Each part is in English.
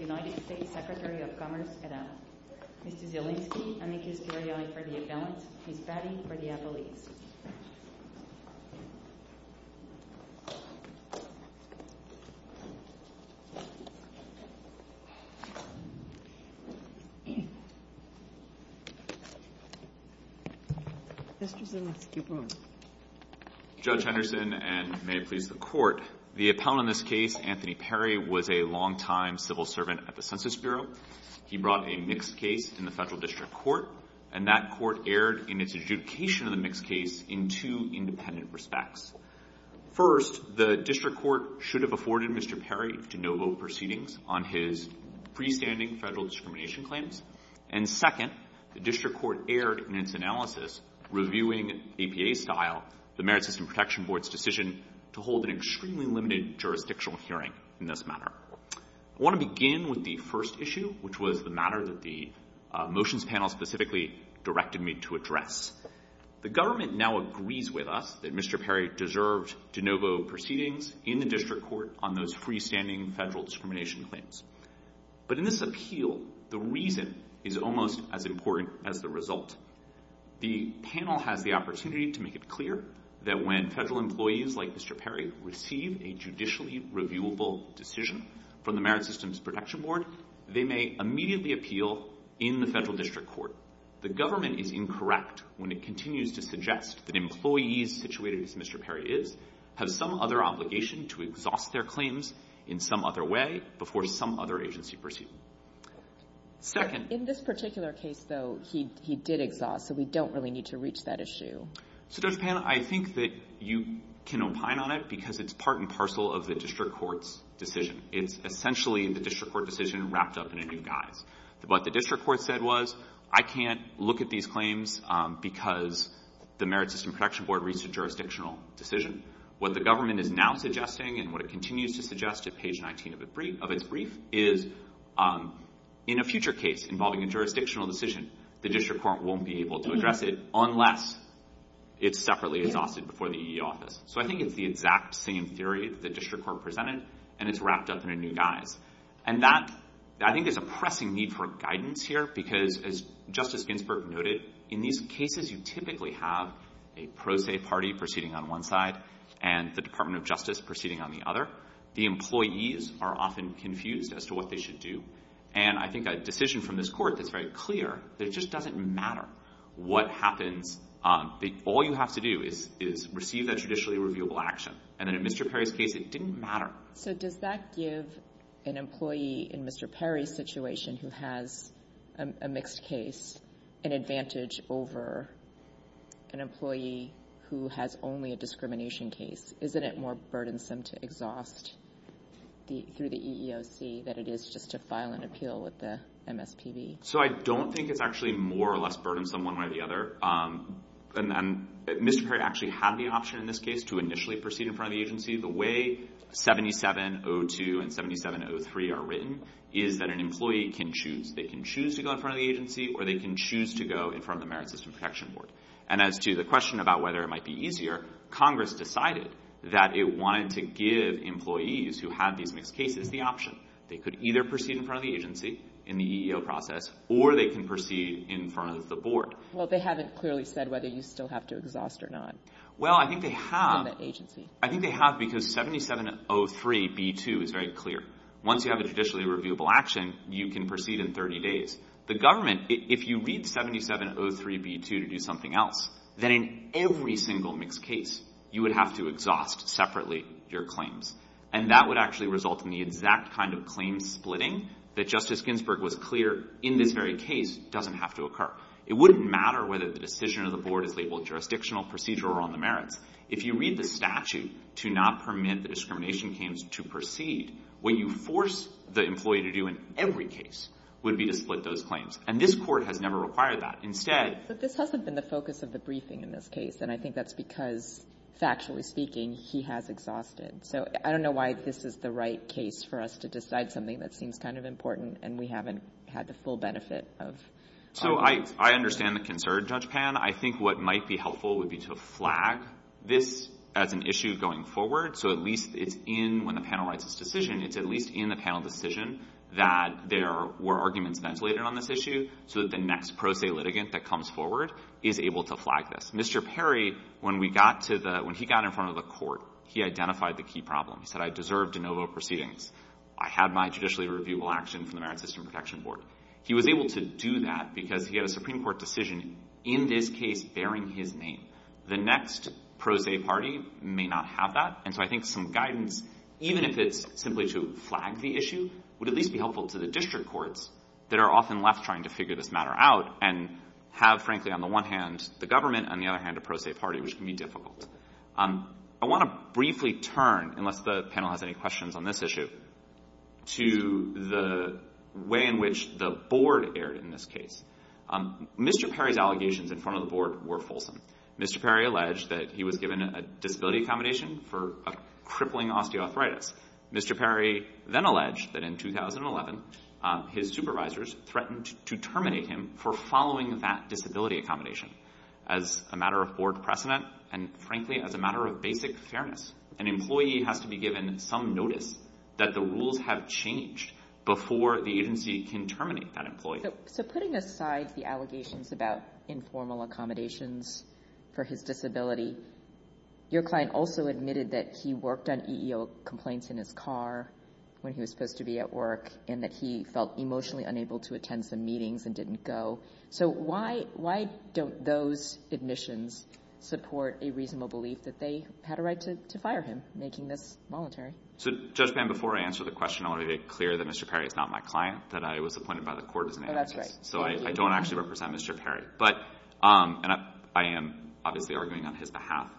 United States Secretary of Commerce et al. Mr. Zielinski, I thank you for the appellant. Ms. Batty for the appellate. Mr. Zielinski, please. Judge Henderson, and may it please the Court, the appellant in this case, Anthony Perry, was a long-time civil servant at the Census Bureau. He brought a mixed case in the federal district court, and that court erred in its adjudication of the mixed case in two independent respects. First, the district court should have afforded Mr. Perry to no vote proceedings on his freestanding federal discrimination claims. And second, the district court erred in its analysis, reviewing APA-style the Merit System Protection Board's decision to hold an extremely limited jurisdictional hearing in this matter. I want to begin with the first issue, which was the matter that the motions panel specifically directed me to address. The government now agrees with us that Mr. Perry deserved to no vote proceedings in the district court on those freestanding federal discrimination claims. But in this appeal, the reason is almost as important as the result. The panel has the opportunity to make it clear that when federal employees like Mr. Perry receive a judicially reviewable decision from the Merit Systems Protection Board, they may immediately appeal in the federal district court. The government is incorrect when it continues to suggest that employees situated as Mr. Perry is have some other obligation to exhaust their claims in some other way before some other agency proceeds. In this particular case, though, he did exhaust, so we don't really need to reach that issue. So Judge Pan, I think that you can opine on it because it's part and parcel of the district court's decision. It's essentially the district court decision wrapped up in a new guise. What the district court said was, I can't look at these claims because the Merit System Protection Board reached a jurisdictional decision. What the government is now suggesting and what it continues to suggest at page 19 of its brief is in a future case involving a jurisdictional decision, the district court won't be able to address it unless it's separately exhausted before the EE office. So I think it's the exact same theory that the district court presented, and it's wrapped up in a new guise. I think there's a pressing need for guidance here because, as Justice Ginsburg noted, in these cases you typically have a pro se party proceeding on one side and the Department of Justice proceeding on the other. The employees are often confused as to what they should do, and I think a decision from this court that's very clear that it just doesn't matter what happens. All you have to do is receive that judicially reviewable action, and then in Mr. Perry's case it didn't matter. So does that give an employee in Mr. Perry's situation who has a mixed case an advantage over an employee who has only a discrimination case? Isn't it more burdensome to exhaust through the EEOC than it is just to file an appeal with the MSPB? So I don't think it's actually more or less burdensome one way or the other. Mr. Perry actually had the option in this case to initially proceed in front of the agency. The way 7702 and 7703 are written is that an employee can choose. They can choose to go in front of the agency or they can choose to go in front of the Merit System Protection Board. And as to the question about whether it might be easier, Congress decided that it wanted to give employees who had these mixed cases the option. They could either proceed in front of the agency in the EEO process or they can proceed in front of the board. Well, they haven't clearly said whether you still have to exhaust or not. Well, I think they have. In the agency. I think they have because 7703b2 is very clear. Once you have a judicially reviewable action, you can proceed in 30 days. The government, if you read 7703b2 to do something else, then in every single mixed case you would have to exhaust separately your claims. And that would actually result in the exact kind of claim splitting that Justice Ginsburg was clear in this very case doesn't have to occur. It wouldn't matter whether the decision of the board is labeled jurisdictional, procedural, or on the merits. If you read the statute to not permit the discrimination claims to proceed, what you force the employee to do in every case would be to split those claims. And this court has never required that. Instead — But this hasn't been the focus of the briefing in this case, and I think that's because, factually speaking, he has exhausted. So I don't know why this is the right case for us to decide something that seems kind of important and we haven't had the full benefit of — So I understand the concern, Judge Pan. I think what might be helpful would be to flag this as an issue going forward so at least it's in — when the panel writes its decision, it's at least in the panel decision that there were arguments ventilated on this issue so that the next pro se litigant that comes forward is able to flag this. Mr. Perry, when we got to the — when he got in front of the court, he identified the key problem. He said, I deserve de novo proceedings. I have my judicially reviewable action from the Merit System Protection Board. He was able to do that because he had a Supreme Court decision in this case bearing his name. The next pro se party may not have that, and so I think some guidance, even if it's simply to flag the issue, would at least be helpful to the district courts that are often left trying to figure this matter out and have, frankly, on the one hand, the government, on the other hand, a pro se party, which can be difficult. I want to briefly turn, unless the panel has any questions on this issue, to the way in which the board erred in this case. Mr. Perry's allegations in front of the board were fulsome. Mr. Perry alleged that he was given a disability accommodation for a crippling osteoarthritis. Mr. Perry then alleged that in 2011, his supervisors threatened to terminate him for following that disability accommodation. As a matter of board precedent and, frankly, as a matter of basic fairness, an employee has to be given some notice that the rules have changed before the agency can terminate that employee. So putting aside the allegations about informal accommodations for his disability, your client also admitted that he worked on EEO complaints in his car when he was supposed to be at work and that he felt emotionally unable to attend some meetings and didn't go. So why don't those admissions support a reasonable belief that they had a right to fire him, making this voluntary? So, Judge Bann, before I answer the question, I want to make it clear that Mr. Perry is not my client, that I was appointed by the court as an anarchist. Oh, that's right. So I don't actually represent Mr. Perry. And I am obviously arguing on his behalf.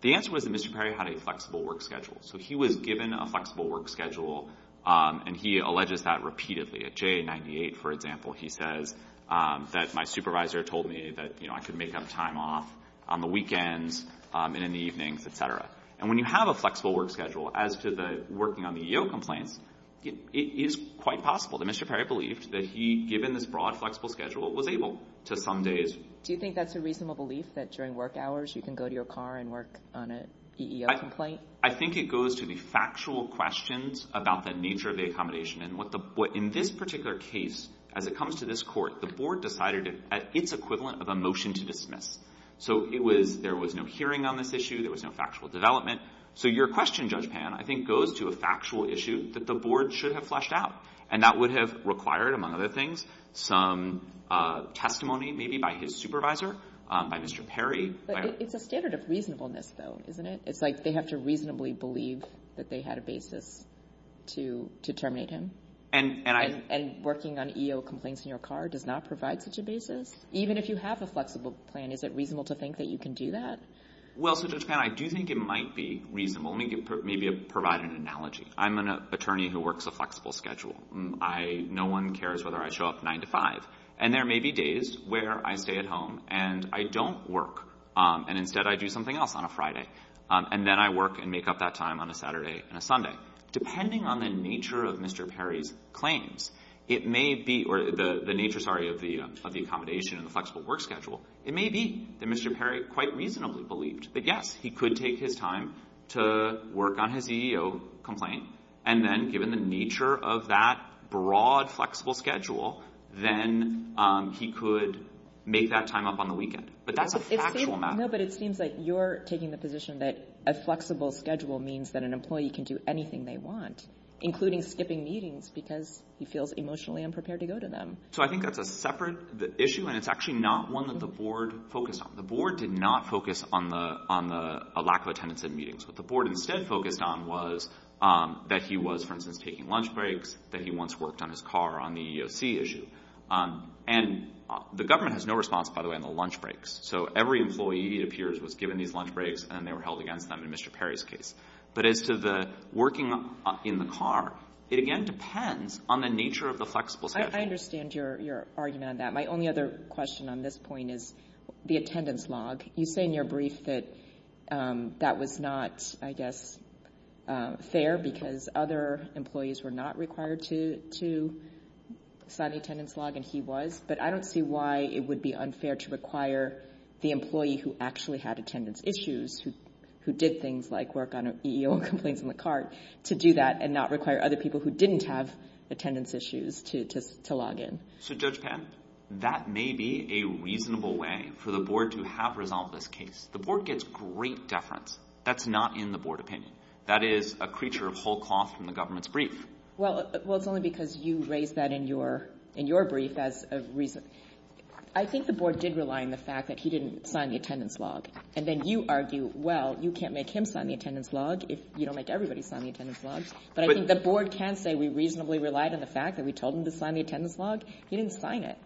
The answer was that Mr. Perry had a flexible work schedule. So he was given a flexible work schedule, and he alleges that repeatedly. At JA-98, for example, he says that my supervisor told me that, you know, I could make up time off on the weekends and in the evenings, et cetera. And when you have a flexible work schedule, as to the working on the EEO complaints, it is quite possible that Mr. Perry believed that he, given this broad, flexible schedule, was able to some days. Do you think that's a reasonable belief, that during work hours you can go to your car and work on an EEO complaint? I think it goes to the factual questions about the nature of the accommodation and what in this particular case, as it comes to this court, the board decided it's equivalent of a motion to dismiss. So there was no hearing on this issue. There was no factual development. So your question, Judge Pan, I think goes to a factual issue that the board should have fleshed out, and that would have required, among other things, some testimony maybe by his supervisor, by Mr. Perry. But it's a standard of reasonableness, though, isn't it? It's like they have to reasonably believe that they had a basis to terminate him. And working on EEO complaints in your car does not provide such a basis? Even if you have a flexible plan, is it reasonable to think that you can do that? Well, so, Judge Pan, I do think it might be reasonable. Let me maybe provide an analogy. I'm an attorney who works a flexible schedule. No one cares whether I show up 9 to 5. And there may be days where I stay at home and I don't work, and instead I do something else on a Friday. And then I work and make up that time on a Saturday and a Sunday. Depending on the nature of Mr. Perry's claims, it may be or the nature, sorry, of the accommodation and the flexible work schedule, it may be that Mr. Perry quite reasonably believed that, yes, he could take his time to work on his EEO complaint. And then, given the nature of that broad, flexible schedule, then he could make that time up on the weekend. But that's a factual matter. No, but it seems like you're taking the position that a flexible schedule means that an employee can do anything they want, including skipping meetings because he feels emotionally unprepared to go to them. So I think that's a separate issue, and it's actually not one that the board focused on. The board did not focus on the lack of attendance in meetings. What the board instead focused on was that he was, for instance, taking lunch breaks, that he once worked on his car on the EEOC issue. And the government has no response, by the way, on the lunch breaks. So every employee, it appears, was given these lunch breaks, and they were held against them in Mr. Perry's case. But as to the working in the car, it, again, depends on the nature of the flexible schedule. I understand your argument on that. My only other question on this point is the attendance log. You say in your brief that that was not, I guess, fair because other employees were not required to sign the attendance log, and he was. But I don't see why it would be unfair to require the employee who actually had attendance issues, who did things like work on EEO complaints in the car, to do that and not require other people who didn't have attendance issues to log in. So, Judge Pan, that may be a reasonable way for the board to have resolved this case. The board gets great deference. That's not in the board opinion. Well, it's only because you raised that in your brief as a reason. I think the board did rely on the fact that he didn't sign the attendance log. And then you argue, well, you can't make him sign the attendance log if you don't make everybody sign the attendance log. But I think the board can say we reasonably relied on the fact that we told him to sign the attendance log. He didn't sign it.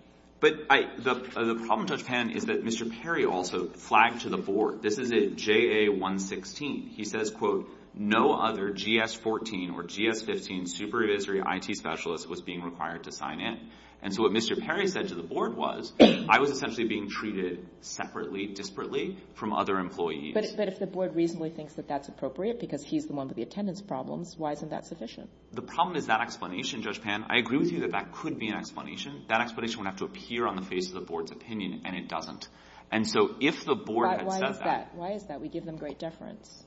But the problem, Judge Pan, is that Mr. Perry also flagged to the board. This is a JA-116. He says, quote, no other GS-14 or GS-15 supervisory IT specialist was being required to sign in. And so what Mr. Perry said to the board was I was essentially being treated separately, disparately from other employees. But if the board reasonably thinks that that's appropriate because he's the one with the attendance problems, why isn't that sufficient? The problem is that explanation, Judge Pan. I agree with you that that could be an explanation. That explanation would have to appear on the face of the board's opinion, and it doesn't. And so if the board had said that. But why is that? Why is that? We give them great deference.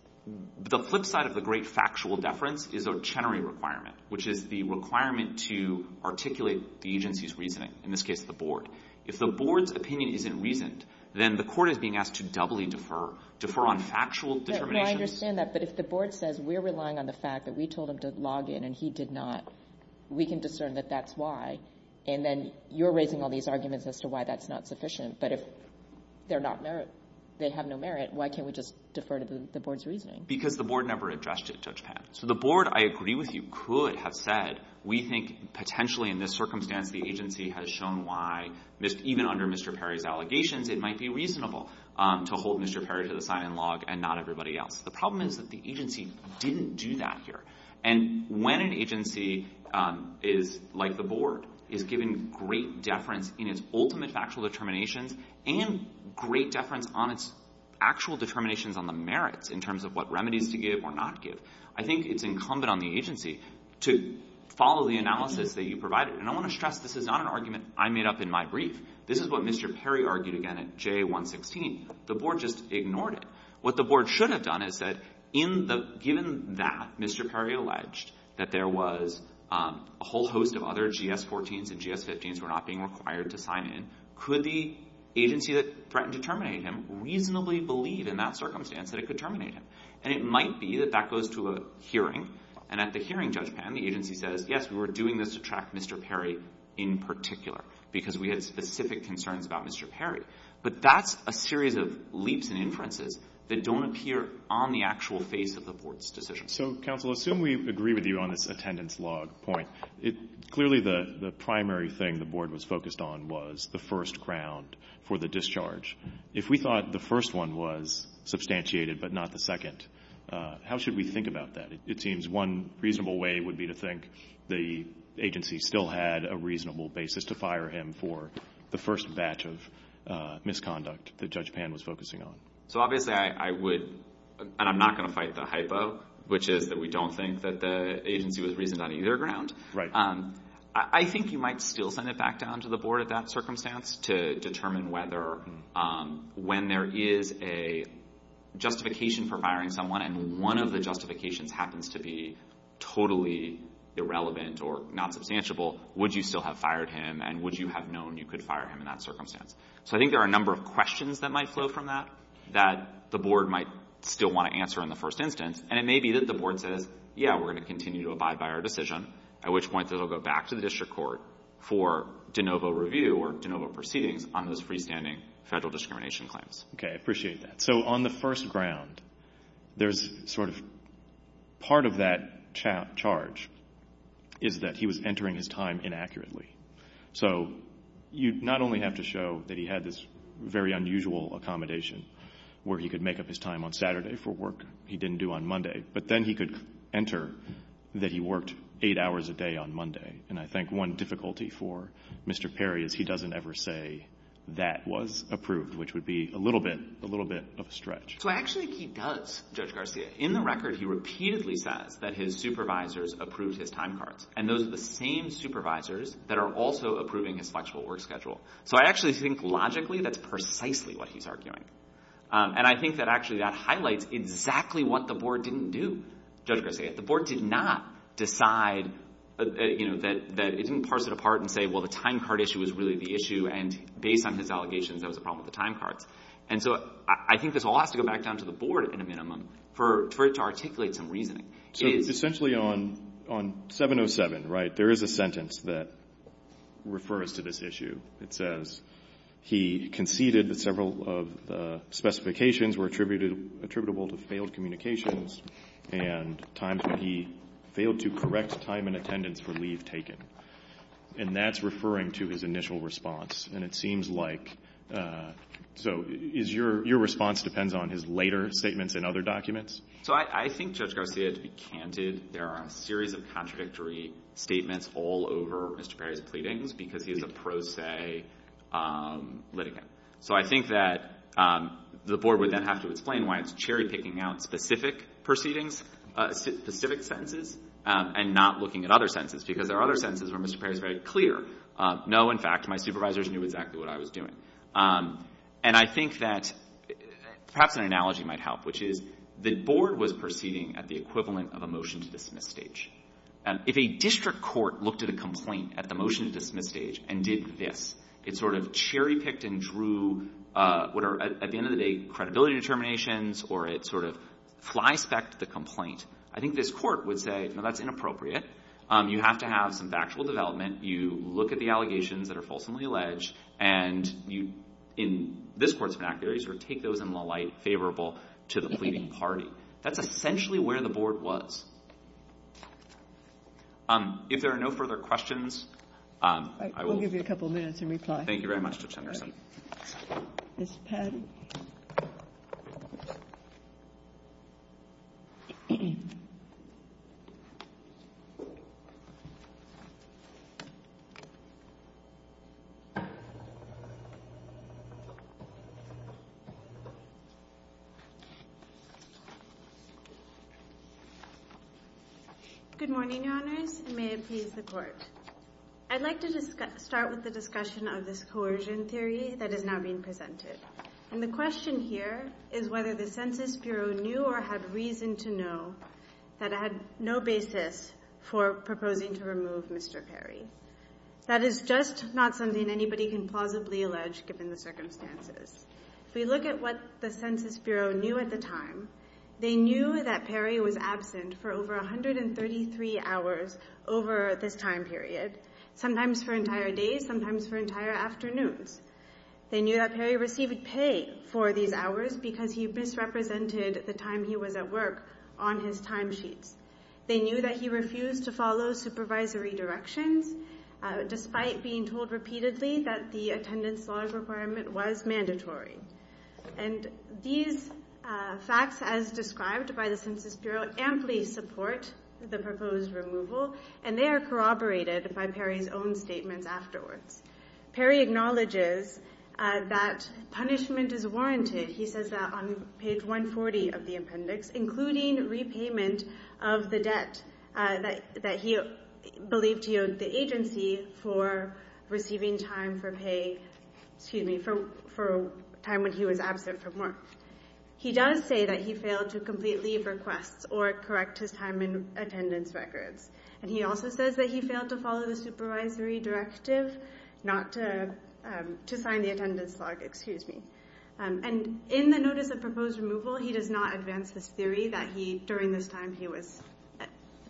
The flip side of the great factual deference is a Chenery requirement, which is the requirement to articulate the agency's reasoning, in this case the board. If the board's opinion isn't reasoned, then the court is being asked to doubly defer, defer on factual determinations. No, I understand that. But if the board says we're relying on the fact that we told him to log in and he did not, we can discern that that's why. And then you're raising all these arguments as to why that's not sufficient. But if they're not merit, they have no merit, why can't we just defer to the board's reasoning? Because the board never addressed it, Judge Pan. So the board, I agree with you, could have said we think potentially in this circumstance the agency has shown why, even under Mr. Perry's allegations, it might be reasonable to hold Mr. Perry to the sign-in log and not everybody else. The problem is that the agency didn't do that here. And when an agency is like the board, is given great deference in its ultimate factual determinations and great deference on its actual determinations on the merits in terms of what remedies to give or not give, I think it's incumbent on the agency to follow the analysis that you provided. And I want to stress this is not an argument I made up in my brief. This is what Mr. Perry argued again at J116. The board just ignored it. What the board should have done is said, given that Mr. Perry alleged that there was a whole host of other GS-14s and GS-15s who were not being required to sign in, could the agency that threatened to terminate him reasonably believe in that circumstance that it could terminate him? And it might be that that goes to a hearing. And at the hearing, Judge Pan, the agency says, yes, we were doing this to track Mr. Perry in particular because we had specific concerns about Mr. Perry. But that's a series of leaps and inferences that don't appear on the actual face of the board's decision. So, counsel, assume we agree with you on this attendance log point. Clearly, the primary thing the board was focused on was the first ground for the discharge. If we thought the first one was substantiated but not the second, how should we think about that? It seems one reasonable way would be to think the agency still had a reasonable basis to fire him for the first batch of misconduct that Judge Pan was focusing on. So obviously I would, and I'm not going to fight the hypo, which is that we don't think that the agency was reasoned on either ground. I think you might still send it back down to the board at that circumstance to determine whether when there is a justification for firing someone and one of the justifications happens to be totally irrelevant or not substantiable, would you still have fired him? And would you have known you could fire him in that circumstance? So I think there are a number of questions that might flow from that that the board might still want to answer in the first instance. And it may be that the board says, yeah, we're going to continue to abide by our decision, at which point it will go back to the district court for de novo review or de novo proceedings on those freestanding federal discrimination claims. Okay, I appreciate that. So on the first ground, there's sort of part of that charge is that he was entering his time inaccurately. So you not only have to show that he had this very unusual accommodation where he could make up his time on Saturday for work that he didn't do on Monday, but then he could enter that he worked eight hours a day on Monday. And I think one difficulty for Mr. Perry is he doesn't ever say that was approved, which would be a little bit of a stretch. So I actually think he does, Judge Garcia. In the record, he repeatedly says that his supervisors approved his time cards, and those are the same supervisors that are also approving his flexible work schedule. So I actually think logically that's precisely what he's arguing. And I think that actually that highlights exactly what the board didn't do, Judge Garcia. The board did not decide, you know, that it didn't parse it apart and say, well, the time card issue was really the issue, and based on his allegations, that was a problem with the time cards. And so I think this all has to go back down to the board, at a minimum, for it to articulate some reasoning. So essentially on 707, right, there is a sentence that refers to this issue. It says he conceded that several of the specifications were attributable to failed communications and times when he failed to correct time in attendance for leave taken. And that's referring to his initial response. And it seems like so is your response depends on his later statements in other documents? So I think, Judge Garcia, to be candid, there are a series of contradictory statements all over Mr. Perry's pleadings because he is a pro se litigant. So I think that the board would then have to explain why it's cherry picking out specific proceedings, specific sentences, and not looking at other sentences, because there are other sentences where Mr. Perry is very clear. No, in fact, my supervisors knew exactly what I was doing. And I think that perhaps an analogy might help, which is the board was proceeding at the equivalent of a motion to dismiss stage. If a district court looked at a complaint at the motion to dismiss stage and did this, it sort of cherry picked and drew what are at the end of the day credibility determinations or it sort of fly specked the complaint. I think this court would say, no, that's inappropriate. You have to have some factual development. You look at the allegations that are fulsomely alleged, and you, in this court's vernacular, you sort of take those in the light favorable to the pleading party. That's essentially where the board was. If there are no further questions, I will. I will give you a couple minutes in reply. Thank you very much, Judge Henderson. Ms. Patti? Good morning, Your Honors, and may it please the Court. I'd like to start with the discussion of this coercion theory that is now being presented. And the question here is whether the Census Bureau knew or had reason to know that it had no basis for proposing to remove Mr. Perry. That is just not something anybody can plausibly allege given the circumstances. If we look at what the Census Bureau knew at the time, they knew that Perry was absent for over 133 hours over this time period, sometimes for entire days, sometimes for entire afternoons. They knew that Perry received pay for these hours because he misrepresented the time he was at work on his timesheets. They knew that he refused to follow supervisory directions, despite being told repeatedly that the attendance large requirement was mandatory. And these facts, as described by the Census Bureau, amply support the proposed removal, and they are corroborated by Perry's own statements afterwards. Perry acknowledges that punishment is warranted, he says that on page 140 of the appendix, including repayment of the debt that he believed he owed the agency for receiving time for pay, excuse me, for time when he was absent from work. He does say that he failed to complete leave requests or correct his time in attendance records. And he also says that he failed to follow the supervisory directive not to sign the attendance log, excuse me. And in the notice of proposed removal, he does not advance this theory that he, during this time he was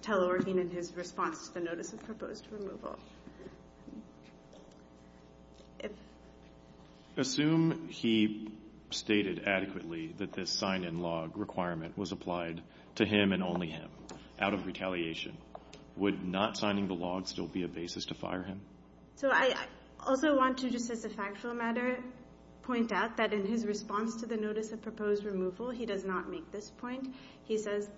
teleworking in his response to the notice of proposed removal. Assume he stated adequately that this sign-in log requirement was applied to him and only him, out of retaliation. Would not signing the log still be a basis to fire him? So I also want to, just as a factual matter, point out that in his response to the notice of proposed removal, he does not make this point. He says…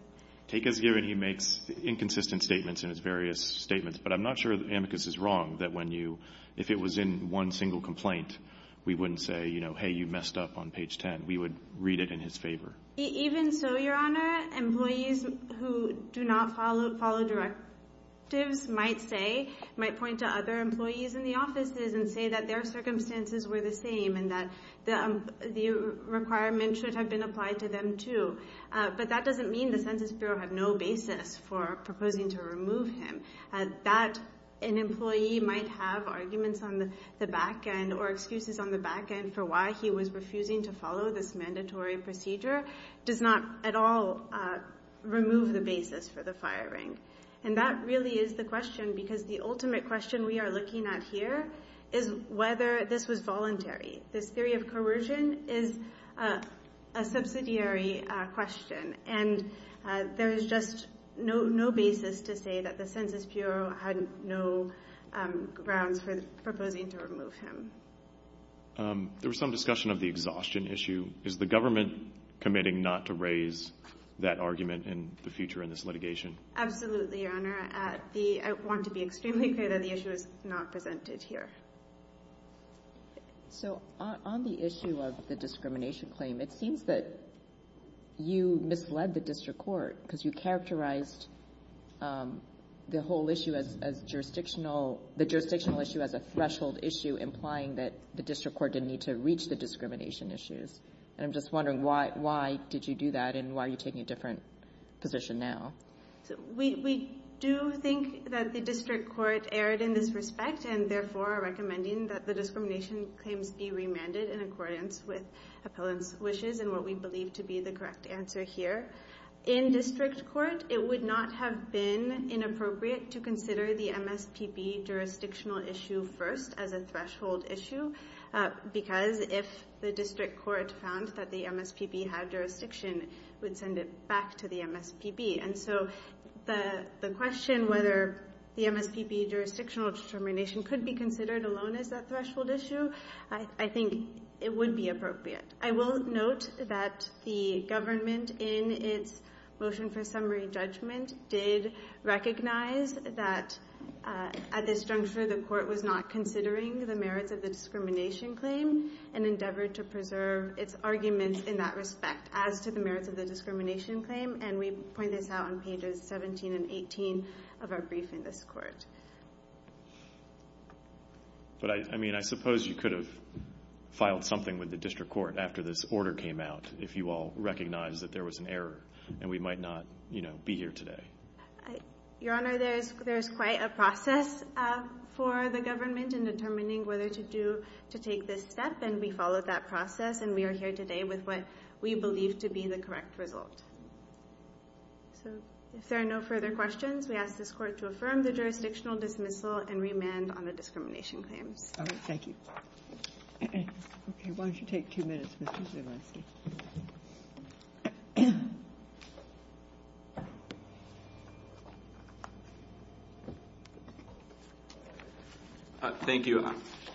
Take as given he makes inconsistent statements in his various statements, but I'm not sure that amicus is wrong that when you, if it was in one single complaint, we wouldn't say, you know, hey, you messed up on page 10. We would read it in his favor. Even so, Your Honor, employees who do not follow directives might say, might point to other employees in the offices and say that their circumstances were the same and that the requirement should have been applied to them too. But that doesn't mean the Census Bureau have no basis for proposing to remove him. That an employee might have arguments on the back end or excuses on the back end for why he was refusing to follow this mandatory procedure does not at all remove the basis for the firing. And that really is the question because the ultimate question we are looking at here is whether this was voluntary. This theory of coercion is a subsidiary question, and there is just no basis to say that the Census Bureau had no grounds for proposing to remove him. There was some discussion of the exhaustion issue. Is the government committing not to raise that argument in the future in this litigation? Absolutely, Your Honor. I want to be extremely clear that the issue is not presented here. So on the issue of the discrimination claim, it seems that you misled the district court because you characterized the whole issue as jurisdictional, the jurisdictional issue as a threshold issue, implying that the district court didn't need to reach the discrimination issues. And I'm just wondering why did you do that and why are you taking a different position now? We do think that the district court erred in this respect and therefore are recommending that the discrimination claims be remanded in accordance with appellant's wishes and what we believe to be the correct answer here. In district court, it would not have been inappropriate to consider the MSPB jurisdictional issue first as a threshold issue because if the district court found that the MSPB had jurisdiction, it would send it back to the MSPB. And so the question whether the MSPB jurisdictional determination could be considered alone as a threshold issue, I think it would be appropriate. I will note that the government in its motion for summary judgment did recognize that at this juncture, the court was not considering the merits of the discrimination claim and endeavored to preserve its arguments in that respect as to the merits of the discrimination claim. And we point this out on pages 17 and 18 of our brief in this court. But I suppose you could have filed something with the district court after this order came out if you all recognized that there was an error and we might not be here today. Your Honor, there is quite a process for the government in determining whether to take this step and we followed that process and we are here today with what we believe to be the correct result. So if there are no further questions, we ask this court to affirm the jurisdictional dismissal and remand on the discrimination claims. All right. Thank you. Thank you.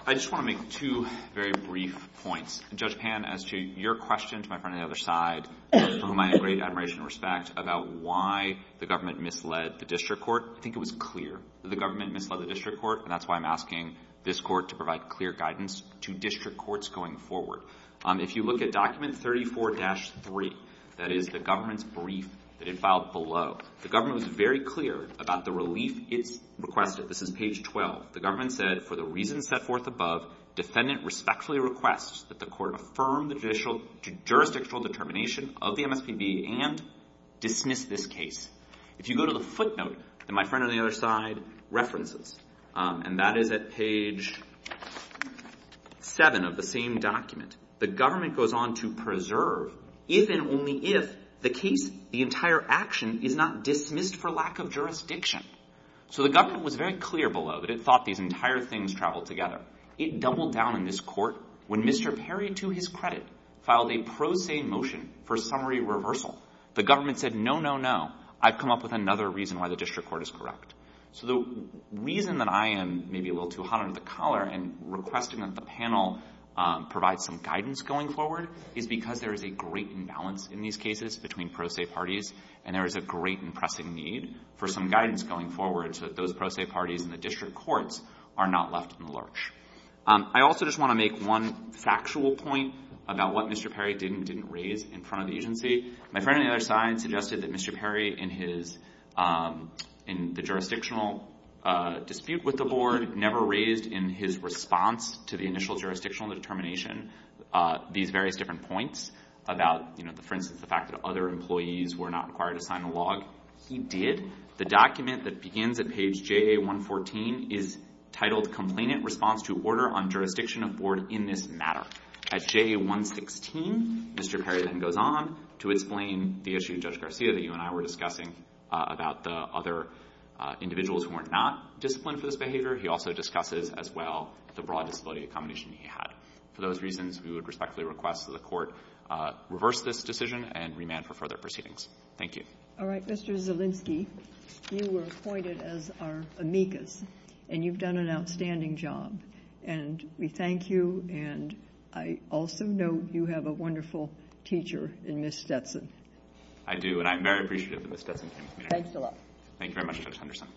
I just want to make two very brief points. Judge Pan, as to your question to my friend on the other side, whom I have great admiration and respect about why the government misled the district court, I think it was clear that the government misled the district court and that's why I'm asking this court to provide clear guidance to district courts going forward. If you look at document 34-3, that is the government's brief that it filed below, the government was very clear about the relief it requested. This is page 12. The government said, for the reasons set forth above, defendant respectfully requests that the court affirm the jurisdictional determination of the MSPB and dismiss this case. If you go to the footnote that my friend on the other side references, and that is at page 7 of the same document, the government goes on to preserve if and only if the case, the entire action is not dismissed for lack of jurisdiction. So the government was very clear below that it thought these entire things traveled together. It doubled down in this court when Mr. Perry, to his credit, filed a pro se motion for summary reversal. The government said, no, no, no. I've come up with another reason why the district court is correct. So the reason that I am maybe a little too hot under the collar and requesting that the panel provide some guidance going forward is because there is a great imbalance in these cases between pro se parties and there is a great and pressing need for some guidance going forward so that those pro se parties in the district courts are not left in the lurch. I also just want to make one factual point about what Mr. Perry didn't raise in front of the agency. My friend on the other side suggested that Mr. Perry, in the jurisdictional dispute with the board, never raised in his response to the initial jurisdictional determination these various different points about, for instance, the fact that other employees were not required to sign the log. He did. The document that begins at page JA114 is titled Complainant Response to Order on Jurisdiction of Board in this Matter. At JA116, Mr. Perry then goes on to explain the issue, Judge Garcia, that you and I were discussing about the other individuals who were not disciplined for this behavior. He also discusses as well the broad disability accommodation he had. For those reasons, we would respectfully request that the court reverse this decision and remand for further proceedings. Thank you. All right. Mr. Zielinski, you were appointed as our amicus, and you've done an outstanding job. And we thank you, and I also note you have a wonderful teacher in Ms. Stetson. I do, and I'm very appreciative of Ms. Stetson. Thanks a lot. Thank you very much, Judge Henderson.